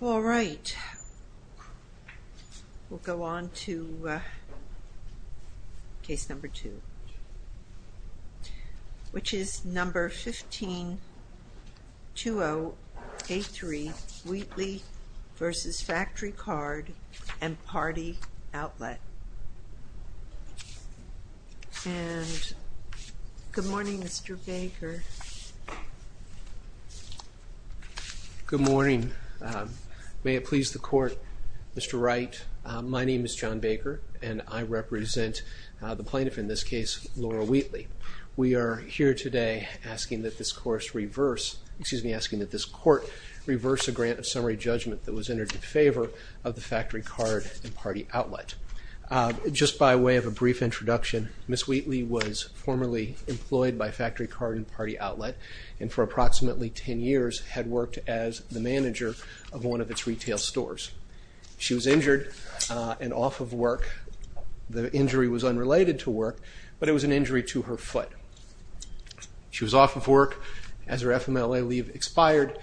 All right, we'll go on to case number two, which is number 15-2083 Wheatley v. Factory Card and Party Outlet. And good morning Mr. Baker. Good morning. May it please the court, Mr. Wright, my name is John Baker and I represent the plaintiff in this case, Lora Wheatley. We are here today asking that this court reverse a grant of summary judgment that was entered in favor of the Factory Card and Party Outlet. Just by way of a brief introduction, Ms. Wheatley was formerly employed by Factory Card and Party Outlet and for approximately 10 years had worked as the manager of one of its retail stores. She was injured and off of work. The injury was unrelated to work, but it was an injury to her foot. She was off of work as her FMLA leave expired.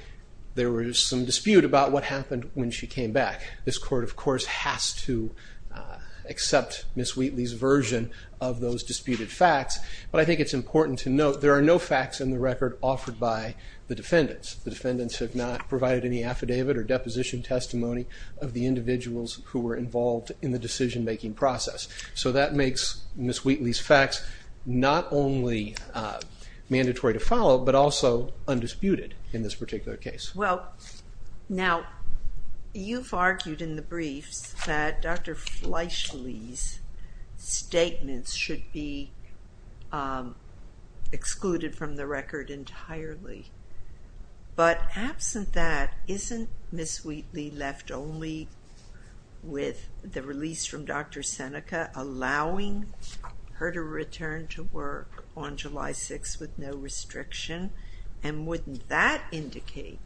There was some dispute about what happened when she came back. This court, of course, has to accept Ms. Wheatley's version of those disputed facts, but I think it's important to note there are no facts in the record offered by the defendants. The defendants have not provided any affidavit or deposition testimony of the individuals who were involved in the decision-making process. So that makes Ms. Wheatley's facts not only mandatory to follow, but also undisputed in this particular case. Well, now, you've argued in the briefs that Dr. Fleishley's statements should be excluded from the record entirely, but absent that, isn't Ms. Wheatley left only with the release from Dr. Seneca allowing her to return to work on July 6th with no restriction? And wouldn't that indicate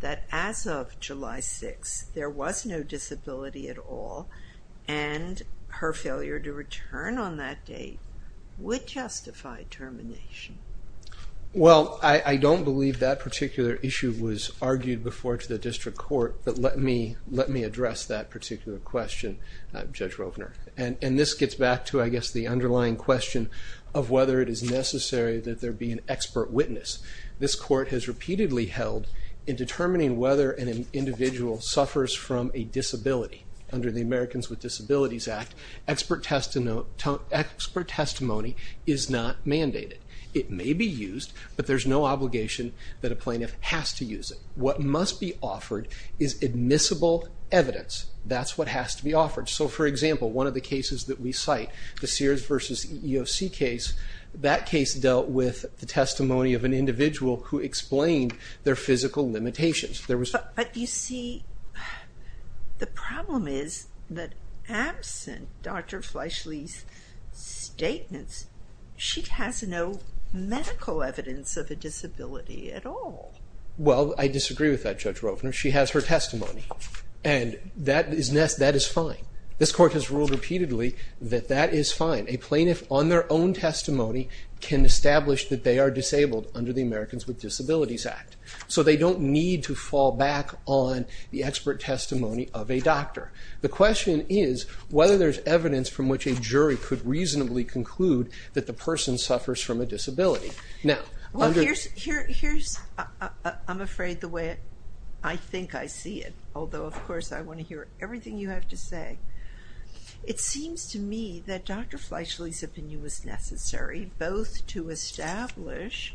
that as of July 6th, there was no disability at all, and her failure to return on that date would justify termination? Well, I don't believe that particular issue was argued before to the District Court, but let me address that particular question, Judge Rovner. And this gets back to, I guess, the underlying question of whether it is necessary that there be an expert witness. This Court has repeatedly held in determining whether an individual suffers from a disability. Under the Americans with Disabilities Act, expert testimony is not mandated. It may be used, but there's no obligation that a plaintiff has to use it. What must be offered is admissible evidence. That's what has to be offered. So, for example, one of the cases that we cite, the Sears v. EEOC case, that case dealt with the testimony of an individual who explained their physical limitations. But you see, the problem is that absent Dr. Fleischle's statements, she has no medical evidence of a disability at all. Well, I disagree with that, Judge Rovner. She has her testimony, and that is fine. This Court has ruled repeatedly that that is fine. A plaintiff, on their own testimony, can establish that they are disabled under the Americans with Disabilities Act. So they don't need to fall back on the expert testimony of a doctor. The question is whether there's evidence from which a jury could reasonably conclude that the person suffers from a disability. Now, under- Well, here's, I'm afraid, the way I think I see it, although, of course, I want to hear everything you have to say. It seems to me that Dr. Fleischle's opinion was necessary, both to establish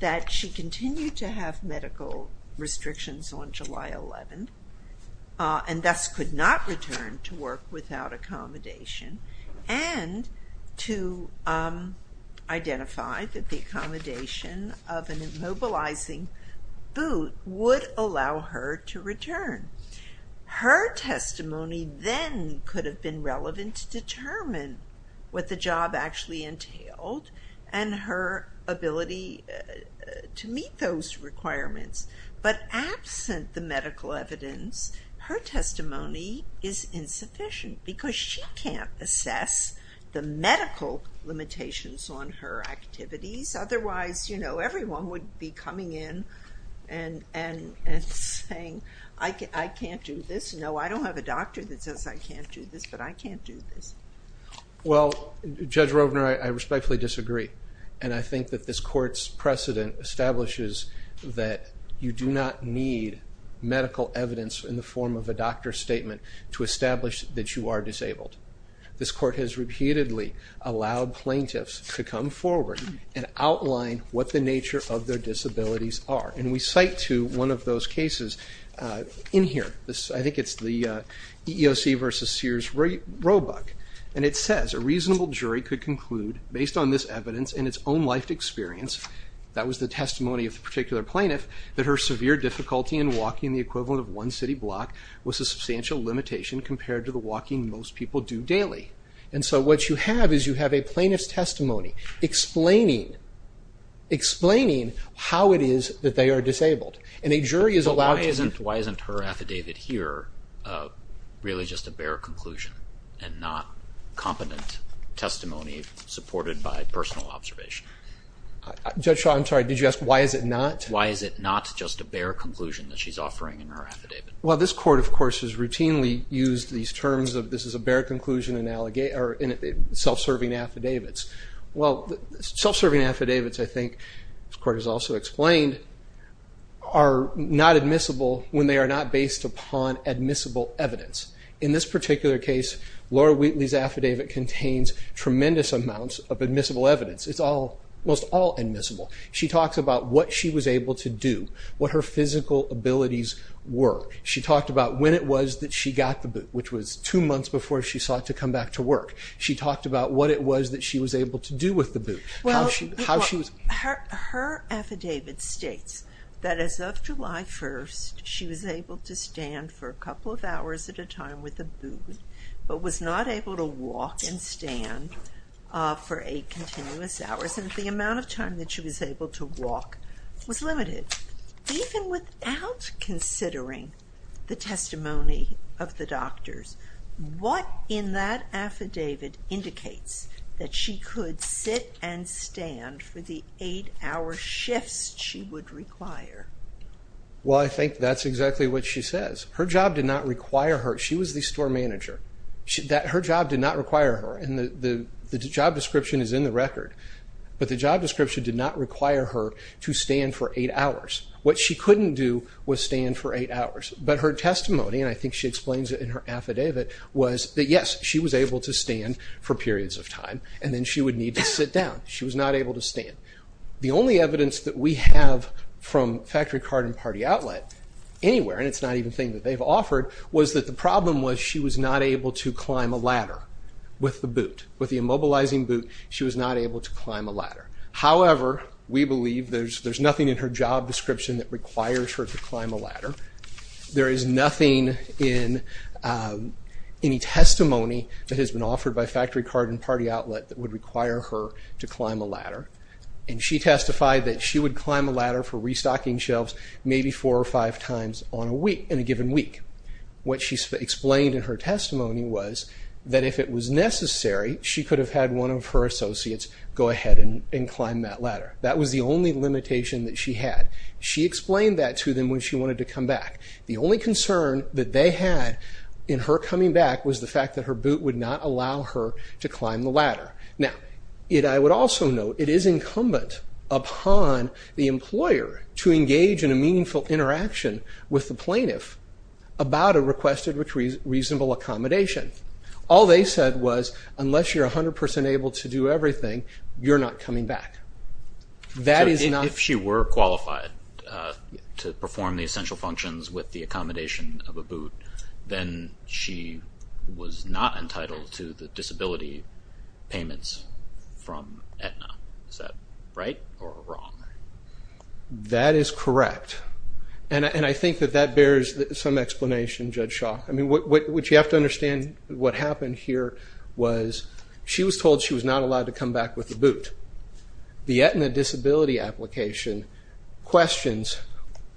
that she continued to have medical restrictions on July 11th, and thus could not return to work without accommodation, and to identify that the accommodation of an immobilizing boot would allow her to return. Her testimony then could have been relevant to determine what the job actually entailed, and her ability to meet those requirements. But absent the medical evidence, her testimony is insufficient, because she can't assess the medical limitations on her activities, otherwise, you know, everyone would be coming in and saying, I can't do this. No, I don't have a doctor that says I can't do this, but I can't do this. Well, Judge Rovner, I respectfully disagree. And I think that this Court's precedent establishes that you do not need medical evidence in the form of a doctor's statement to establish that you are disabled. This Court has repeatedly allowed plaintiffs to come forward and outline what the nature of their disabilities are. And we cite to one of those cases in here, I think it's the EEOC versus Sears Roebuck, and it says, a reasonable jury could conclude, based on this evidence and its own life experience, that was the testimony of the particular plaintiff, that her severe difficulty in walking the equivalent of one city block was a substantial limitation compared to the walking most people do daily. And so what you have is you have a plaintiff's testimony explaining how it is that they are disabled. And a jury is allowed to... But why isn't her affidavit here really just a bare conclusion and not competent testimony supported by personal observation? Judge Shaw, I'm sorry, did you ask why is it not? Why is it not just a bare conclusion that she's offering in her affidavit? Well, this Court, of course, has routinely used these terms of this is a bare conclusion and self-serving affidavits. Well, self-serving affidavits, I think, this Court has also explained, are not admissible when they are not based upon admissible evidence. In this particular case, Laura Wheatley's affidavit contains tremendous amounts of admissible evidence. It's almost all admissible. She talks about what she was able to do, what her physical abilities were. She talked about when it was that she got the boot, which was two months before she sought to come back to work. She talked about what it was that she was able to do with the boot, how she was... Well, her affidavit states that as of July 1st, she was able to stand for a couple of hours at a time with a boot, but was not able to walk and stand for eight continuous hours. And the amount of time that she was able to walk was limited, even without considering the testimony of the doctors. What in that affidavit indicates that she could sit and stand for the eight-hour shifts she would require? Well, I think that's exactly what she says. Her job did not require her. She was the store manager. Her job did not require her, and the job description is in the record. But the job description did not require her to stand for eight hours. What she couldn't do was stand for eight hours. But her testimony, and I think she explains it in her affidavit, was that yes, she was able to stand for periods of time, and then she would need to sit down. She was not able to stand. The only evidence that we have from Factory Card and Party Outlet anywhere, and it's not even a thing that they've offered, was that the problem was she was not able to climb a ladder with the boot. With the immobilizing boot, she was not able to climb a ladder. However, we believe there's nothing in her job description that requires her to climb a ladder. There is nothing in any testimony that has been offered by Factory Card and Party Outlet that would require her to climb a ladder. And she testified that she would climb a ladder for restocking shelves maybe four or five times on a week. Maybe in a given week. What she explained in her testimony was that if it was necessary, she could have had one of her associates go ahead and climb that ladder. That was the only limitation that she had. She explained that to them when she wanted to come back. The only concern that they had in her coming back was the fact that her boot would not allow her to climb the ladder. Now, I would also note, it is incumbent upon the employer to engage in a meaningful interaction with the plaintiff about a requested reasonable accommodation. All they said was, unless you're 100% able to do everything, you're not coming back. That is not... So if she were qualified to perform the essential functions with the accommodation of a boot, then she was not entitled to the disability payments from Aetna. Is that right or wrong? That is correct. And I think that that bears some explanation, Judge Shaw. I mean, what you have to understand, what happened here was she was told she was not allowed to come back with the boot. The Aetna disability application questions,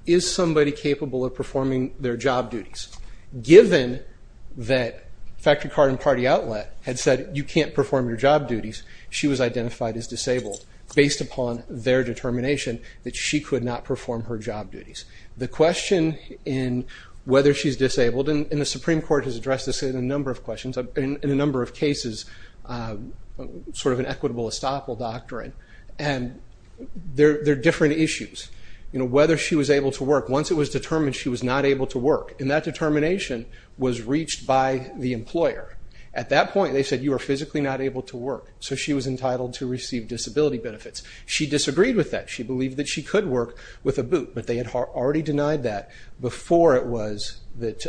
is somebody capable of performing their job duties? Given that Factory Card and Party Outlet had said, you can't perform your job duties, she was identified as disabled based upon their determination that she could not perform her job duties. The question in whether she's disabled, and the Supreme Court has addressed this in a number of cases, sort of an equitable estoppel doctrine, and they're different issues. Whether she was able to work, once it was determined she was not able to work, and that determination was reached by the employer. At that point, they said, you are physically not able to work, so she was entitled to receive disability benefits. She disagreed with that. She believed that she could work with a boot, but they had already denied that before it was that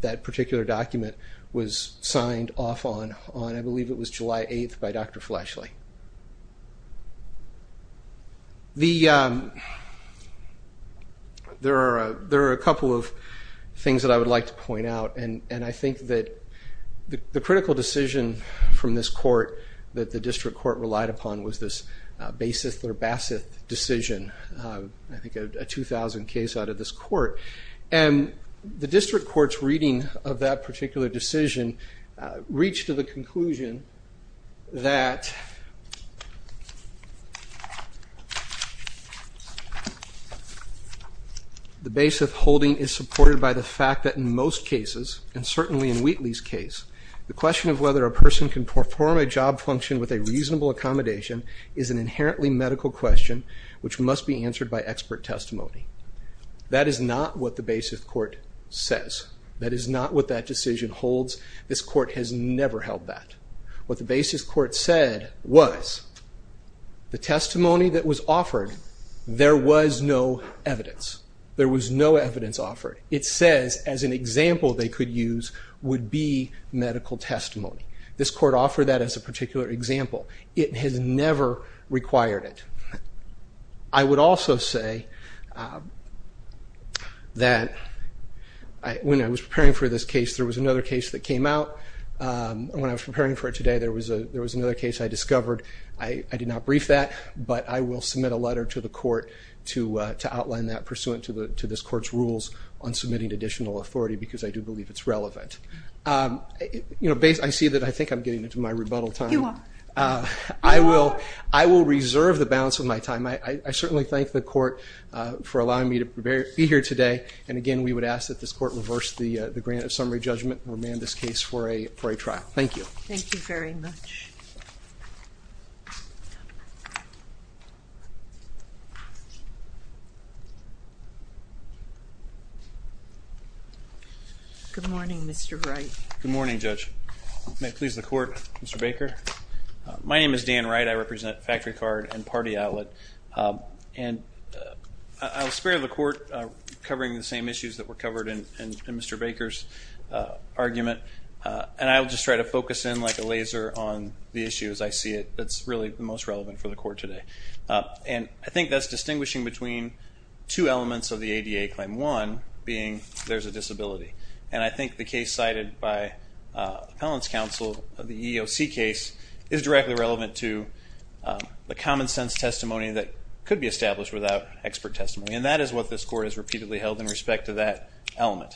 that particular document was signed off on, I believe it was July 8th by Dr. Fleshley. There are a couple of things that I would like to point out, and I think that the critical decision from this court that the district court relied upon was this Baseth or Baseth decision, I think a 2000 case out of this court. The district court's reading of that particular decision reached to the conclusion that the Baseth holding is supported by the fact that in most cases, and certainly in Wheatley's case, the question of whether a person can perform a job function with a reasonable accommodation is an inherently medical question which must be answered by expert testimony. That is not what the Baseth court says. That is not what that decision holds. This court has never held that. What the Baseth court said was the testimony that was offered, there was no evidence. There was no evidence offered. It says as an example they could use would be medical testimony. This court offered that as a particular example. It has never required it. I would also say that when I was preparing for this case, there was another case that came out. When I was preparing for it today, there was another case I discovered. I did not brief that, but I will submit a letter to the court to outline that pursuant to this court's rules on submitting additional authority because I do believe it is relevant. I see that I think I am getting into my rebuttal time. I will reserve the balance of my time. I certainly thank the court for allowing me to be here today. We would ask that this court reverse the grant of summary judgment and remand this case for a trial. Thank you. Thank you very much. Good morning, Mr. Wright. Good morning, Judge. May it please the court, Mr. Baker. My name is Dan Wright. I represent Factory Card and Party Outlet. I will spare the court covering the same issues that were covered in Mr. Baker's argument. I will just try to focus in like a laser on the issues I see that are really most relevant for the court today. I think that is distinguishing between two elements of the ADA Claim 1, being there is a disability. I think the case cited by Appellant's Counsel, the EEOC case, is directly relevant to the common sense testimony that could be established without expert testimony. That is what this court has repeatedly held in respect to that element.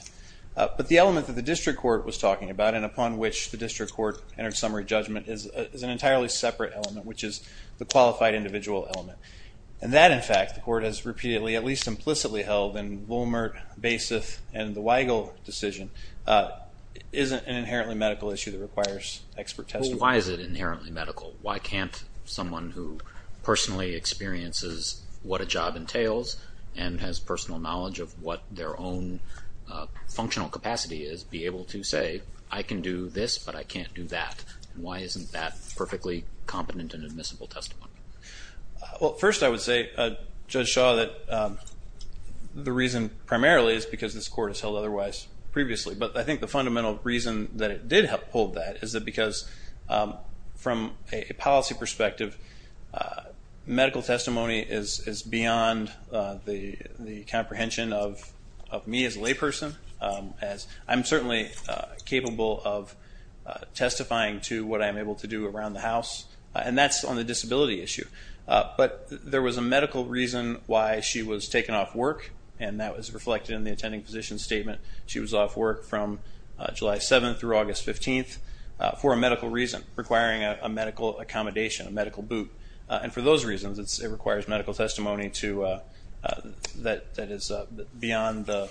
The element that the district court was talking about and upon which the district court entered summary judgment is an entirely separate element, which is the qualified individual element. That, in fact, the court has repeatedly, at least implicitly, held in Willmert, Baseth, and the Weigel decision, is an inherently medical issue that requires expert testimony. Why is it inherently medical? Why can't someone who personally experiences what a job entails and has personal knowledge of what their own functional capacity is be able to say, I can do this, but I can't do that? Why isn't that perfectly competent and admissible testimony? Well, first I would say, Judge Shaw, that the reason primarily is because this court has held otherwise previously. But I think the fundamental reason that it did hold that is because from a policy perspective, medical testimony is beyond the comprehension of me as a layperson. I'm certainly capable of testifying to what I'm able to do around the house, and that's on the disability issue. But there was a medical reason why she was taken off work, and that was reflected in the attending physician's statement. She was off work from July 7th through August 15th for a medical reason, requiring a medical accommodation, a medical boot. And for those reasons, it requires medical testimony that is beyond the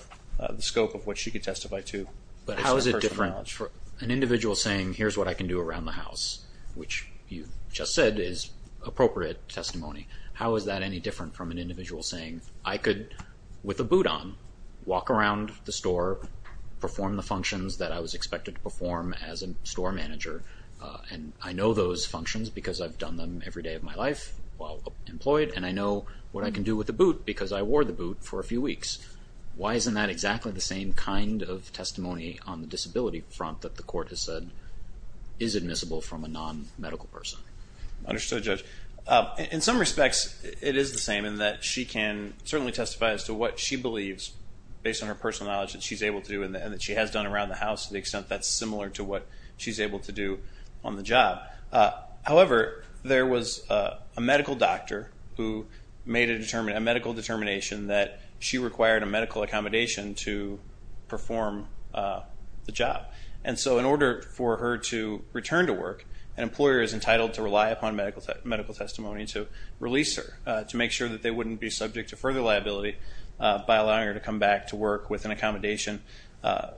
scope of what she could testify to. But how is it different for an individual saying, here's what I can do around the house, which you just said is appropriate testimony. How is that any different from an individual saying, I could, with a boot on, walk around the store, perform the functions that I was expected to perform as a store manager, and I know those functions because I've done them every day of my life while employed, and I know what I can do with a boot because I wore the boot for a few weeks. Why isn't that exactly the same kind of testimony on the disability front that the court has said is admissible from a non-medical person? Mad Fientist. Understood, Judge. In some respects, it is the same in that she can certainly testify as to what she believes based on her personal knowledge that she's able to do and that she has done around the job. However, there was a medical doctor who made a medical determination that she required a medical accommodation to perform the job. And so in order for her to return to work, an employer is entitled to rely upon medical testimony to release her, to make sure that they wouldn't be subject to further liability by allowing her to come back to work with an accommodation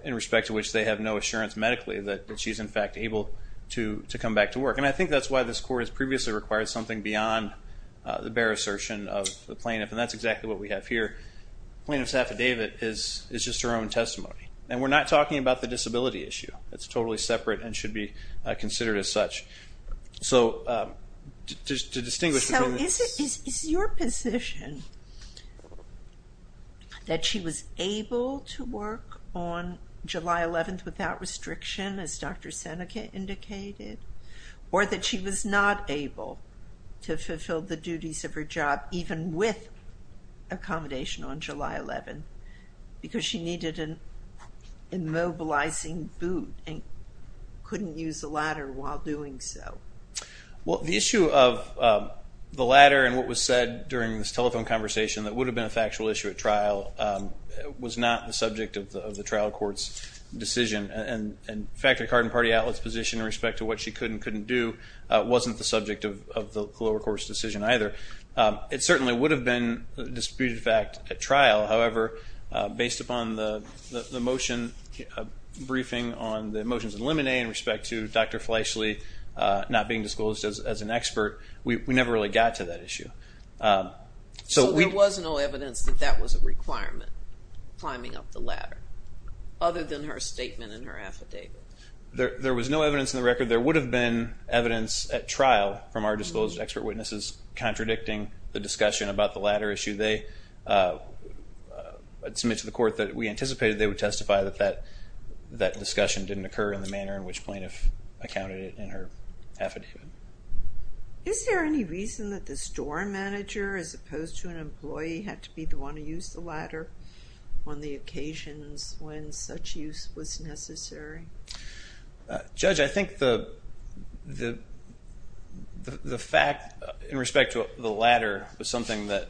in respect to which they have no assurance medically that she's, in fact, able to come back to work. And I think that's why this court has previously required something beyond the bare assertion of the plaintiff, and that's exactly what we have here. Plaintiff's affidavit is just her own testimony, and we're not talking about the disability issue. It's totally separate and should be considered as such. So to distinguish between the two. Is your position that she was able to work on July 11th without restriction, as Dr. Seneca indicated, or that she was not able to fulfill the duties of her job even with accommodation on July 11th because she needed an immobilizing boot and couldn't use a ladder while doing so? Well, the issue of the ladder and what was said during this telephone conversation that would have been a factual issue at trial was not the subject of the trial court's decision. And in fact, the Card and Party Outlet's position in respect to what she could and couldn't do wasn't the subject of the lower court's decision either. It certainly would have been a disputed fact at trial, however, based upon the motion briefing on the motions in Lemonade in respect to Dr. Fleischle not being disclosed as an expert, we never really got to that issue. So there was no evidence that that was a requirement, climbing up the ladder, other than her statement in her affidavit? There was no evidence in the record. There would have been evidence at trial from our disclosed expert witnesses contradicting the discussion about the ladder issue. They submitted to the court that we anticipated they would testify that that discussion didn't occur in the manner in which plaintiff accounted it in her affidavit. Is there any reason that the store manager, as opposed to an employee, had to be the one to use the ladder on the occasions when such use was necessary? Judge, I think the fact in respect to the ladder was something that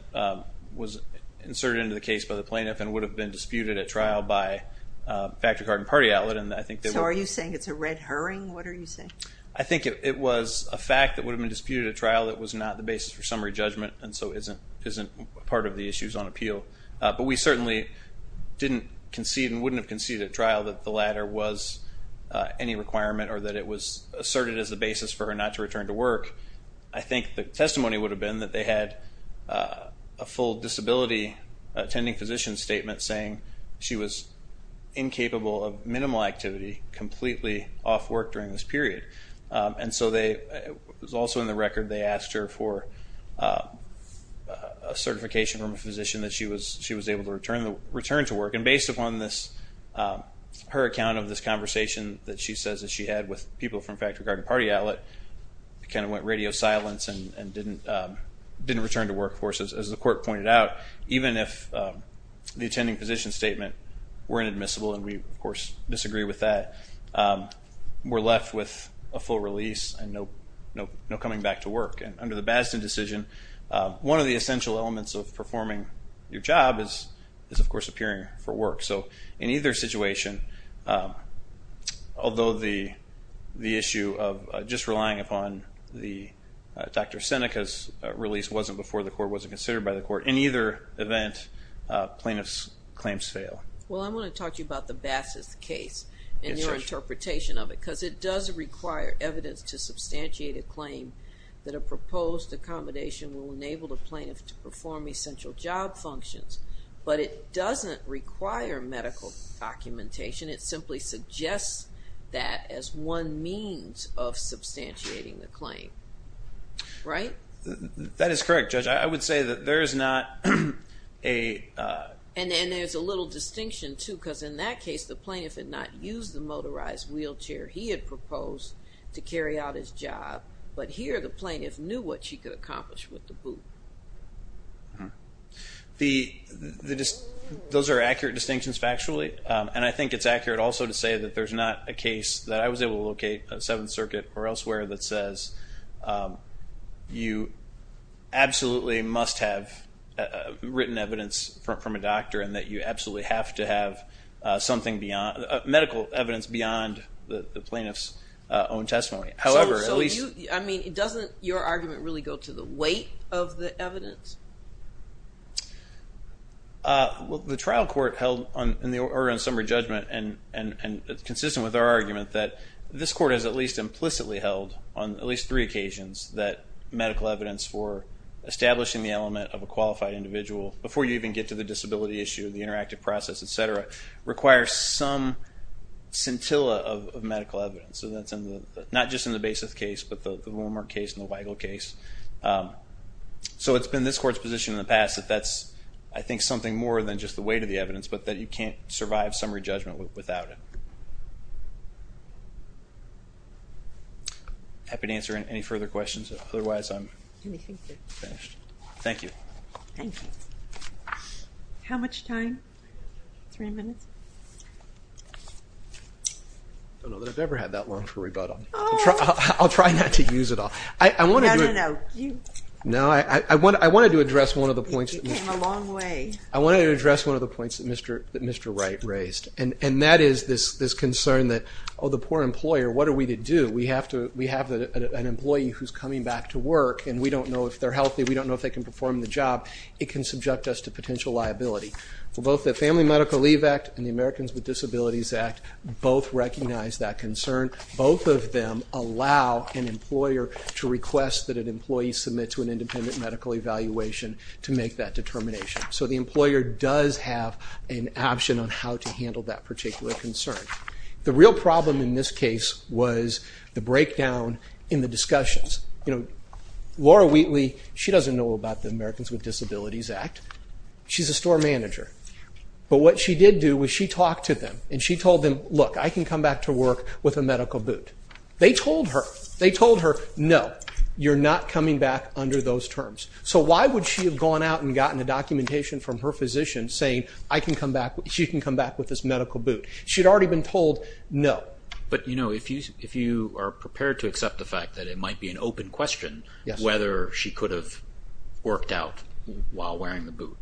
was inserted into the case by the plaintiff and would have been disputed at trial by a factory card and party outlet. So are you saying it's a red herring? What are you saying? I think it was a fact that would have been disputed at trial that was not the basis for summary judgment and so isn't part of the issues on appeal, but we certainly didn't concede and wouldn't have conceded at trial that the ladder was any requirement or that it was asserted as a basis for her not to return to work. I think the testimony would have been that they had a full disability attending physician statement saying she was incapable of minimal activity completely off work during this period. And so they, it was also in the record they asked her for a certification from a physician that she was able to return to work. And based upon this, her account of this conversation that she says that she had with people from factory card and party outlet, it kind of went radio silence and didn't return to work, of course, as the court pointed out. Even if the attending physician statement were inadmissible, and we, of course, disagree with that, we're left with a full release and no coming back to work. And under the Basden decision, one of the essential elements of performing your job is, of course, appearing for work. So in either situation, although the issue of just relying upon the Dr. Seneca's release wasn't before the court, wasn't considered by the court, in either event, plaintiff's claims fail. Well, I want to talk to you about the Bass's case and your interpretation of it because it does require evidence to substantiate a claim that a proposed accommodation will enable a plaintiff to perform essential job functions. But it doesn't require medical documentation. It simply suggests that as one means of substantiating the claim, right? That is correct, Judge. I would say that there is not a- And there's a little distinction too because in that case, the plaintiff had not used the motorized wheelchair he had proposed to carry out his job. But here, the plaintiff knew what she could accomplish with the boot. Those are accurate distinctions factually. And I think it's accurate also to say that there's not a case that I was able to locate at Seventh Circuit or elsewhere that says you absolutely must have written evidence from a doctor and that you absolutely have to have medical evidence beyond the plaintiff's own testimony. However, at least- So you, I mean, doesn't your argument really go to the weight of the evidence? The trial court held in the Oregon Summer Judgment and it's consistent with our argument that this court has at least implicitly held on at least three occasions that medical evidence for establishing the element of a qualified individual before you even get to the disability issue, the interactive process, et cetera, requires some scintilla of medical evidence. So that's in the, not just in the Basis case, but the Willmar case and the Weigel case. So it's been this court's position in the past that that's, I think, something more than just the weight of the evidence, but that you can't survive summary judgment without it. Happy to answer any further questions, otherwise I'm finished. Thank you. Thank you. How much time? Three minutes? I don't know that I've ever had that long for rebuttal. I'll try not to use it all. I wanted to- No, no, no. You- No, I wanted to address one of the points- You came a long way. I wanted to address one of the points that Mr. Wright raised and that is this concern that, oh, the poor employer, what are we to do? We have to, we have an employee who's coming back to work and we don't know if they're healthy, we don't know if they can perform the job. It can subject us to potential liability. Well, both the Family Medical Leave Act and the Americans with Disabilities Act both recognize that concern. Both of them allow an employer to request that an employee submit to an independent medical evaluation to make that determination. So the employer does have an option on how to handle that particular concern. The real problem in this case was the breakdown in the discussions. Laura Wheatley, she doesn't know about the Americans with Disabilities Act. She's a store manager. But what she did do was she talked to them and she told them, look, I can come back to work with a medical boot. They told her, they told her, no, you're not coming back under those terms. So why would she have gone out and gotten a documentation from her physician saying I can come back, she can come back with this medical boot? She'd already been told, no. But you know, if you are prepared to accept the fact that it might be an open question whether she could have worked out while wearing the boot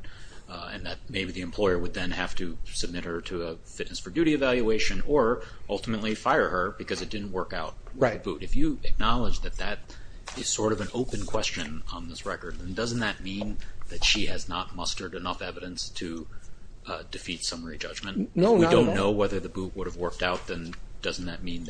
and that maybe the employer would then have to submit her to a fitness for duty evaluation or ultimately fire her because it didn't work out with the boot. If you acknowledge that that is sort of an open question on this record, then doesn't that mean that she has not mustered enough evidence to defeat summary judgment? If we don't know whether the boot would have worked out, then doesn't that mean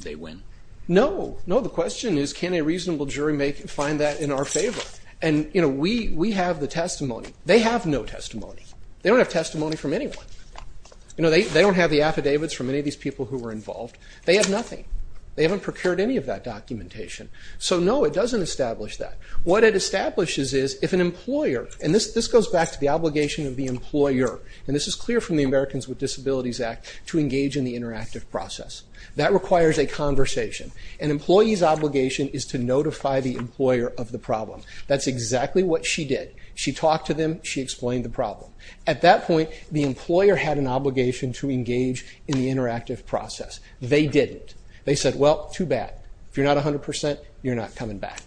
they win? No. No, the question is can a reasonable jury find that in our favor? And you know, we have the testimony. They have no testimony. They don't have testimony from anyone. You know, they don't have the affidavits from any of these people who were involved. They have nothing. They haven't procured any of that documentation. So no, it doesn't establish that. What it establishes is if an employer, and this goes back to the obligation of the employer, and this is clear from the Americans with Disabilities Act to engage in the interactive process. That requires a conversation. An employee's obligation is to notify the employer of the problem. That's exactly what she did. She talked to them. She explained the problem. At that point, the employer had an obligation to engage in the interactive process. They didn't. They said, well, too bad. If you're not 100 percent, you're not coming back.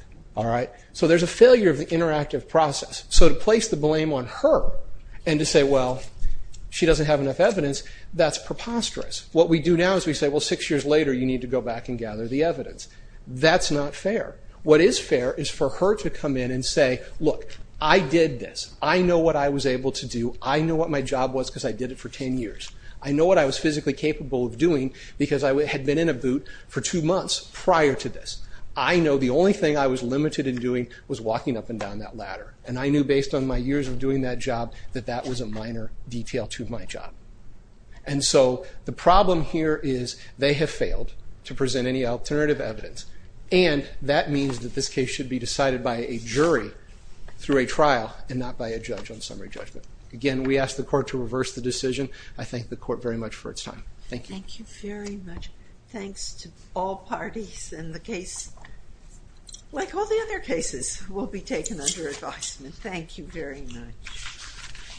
So there's a failure of the interactive process. So to place the blame on her and to say, well, she doesn't have enough evidence, that's preposterous. What we do now is we say, well, six years later you need to go back and gather the evidence. That's not fair. What is fair is for her to come in and say, look, I did this. I know what I was able to do. I know what my job was because I did it for 10 years. I know what I was physically capable of doing because I had been in a boot for two months prior to this. I know the only thing I was limited in doing was walking up and down that ladder. And I knew based on my years of doing that job that that was a minor detail to my job. And so the problem here is they have failed to present any alternative evidence. And that means that this case should be decided by a jury through a trial and not by a judge on summary judgment. Again, we ask the court to reverse the decision. I thank the court very much for its time. Thank you. Thank you very much. Thanks to all parties and the case, like all the other cases, will be taken under advisement. Thank you very much.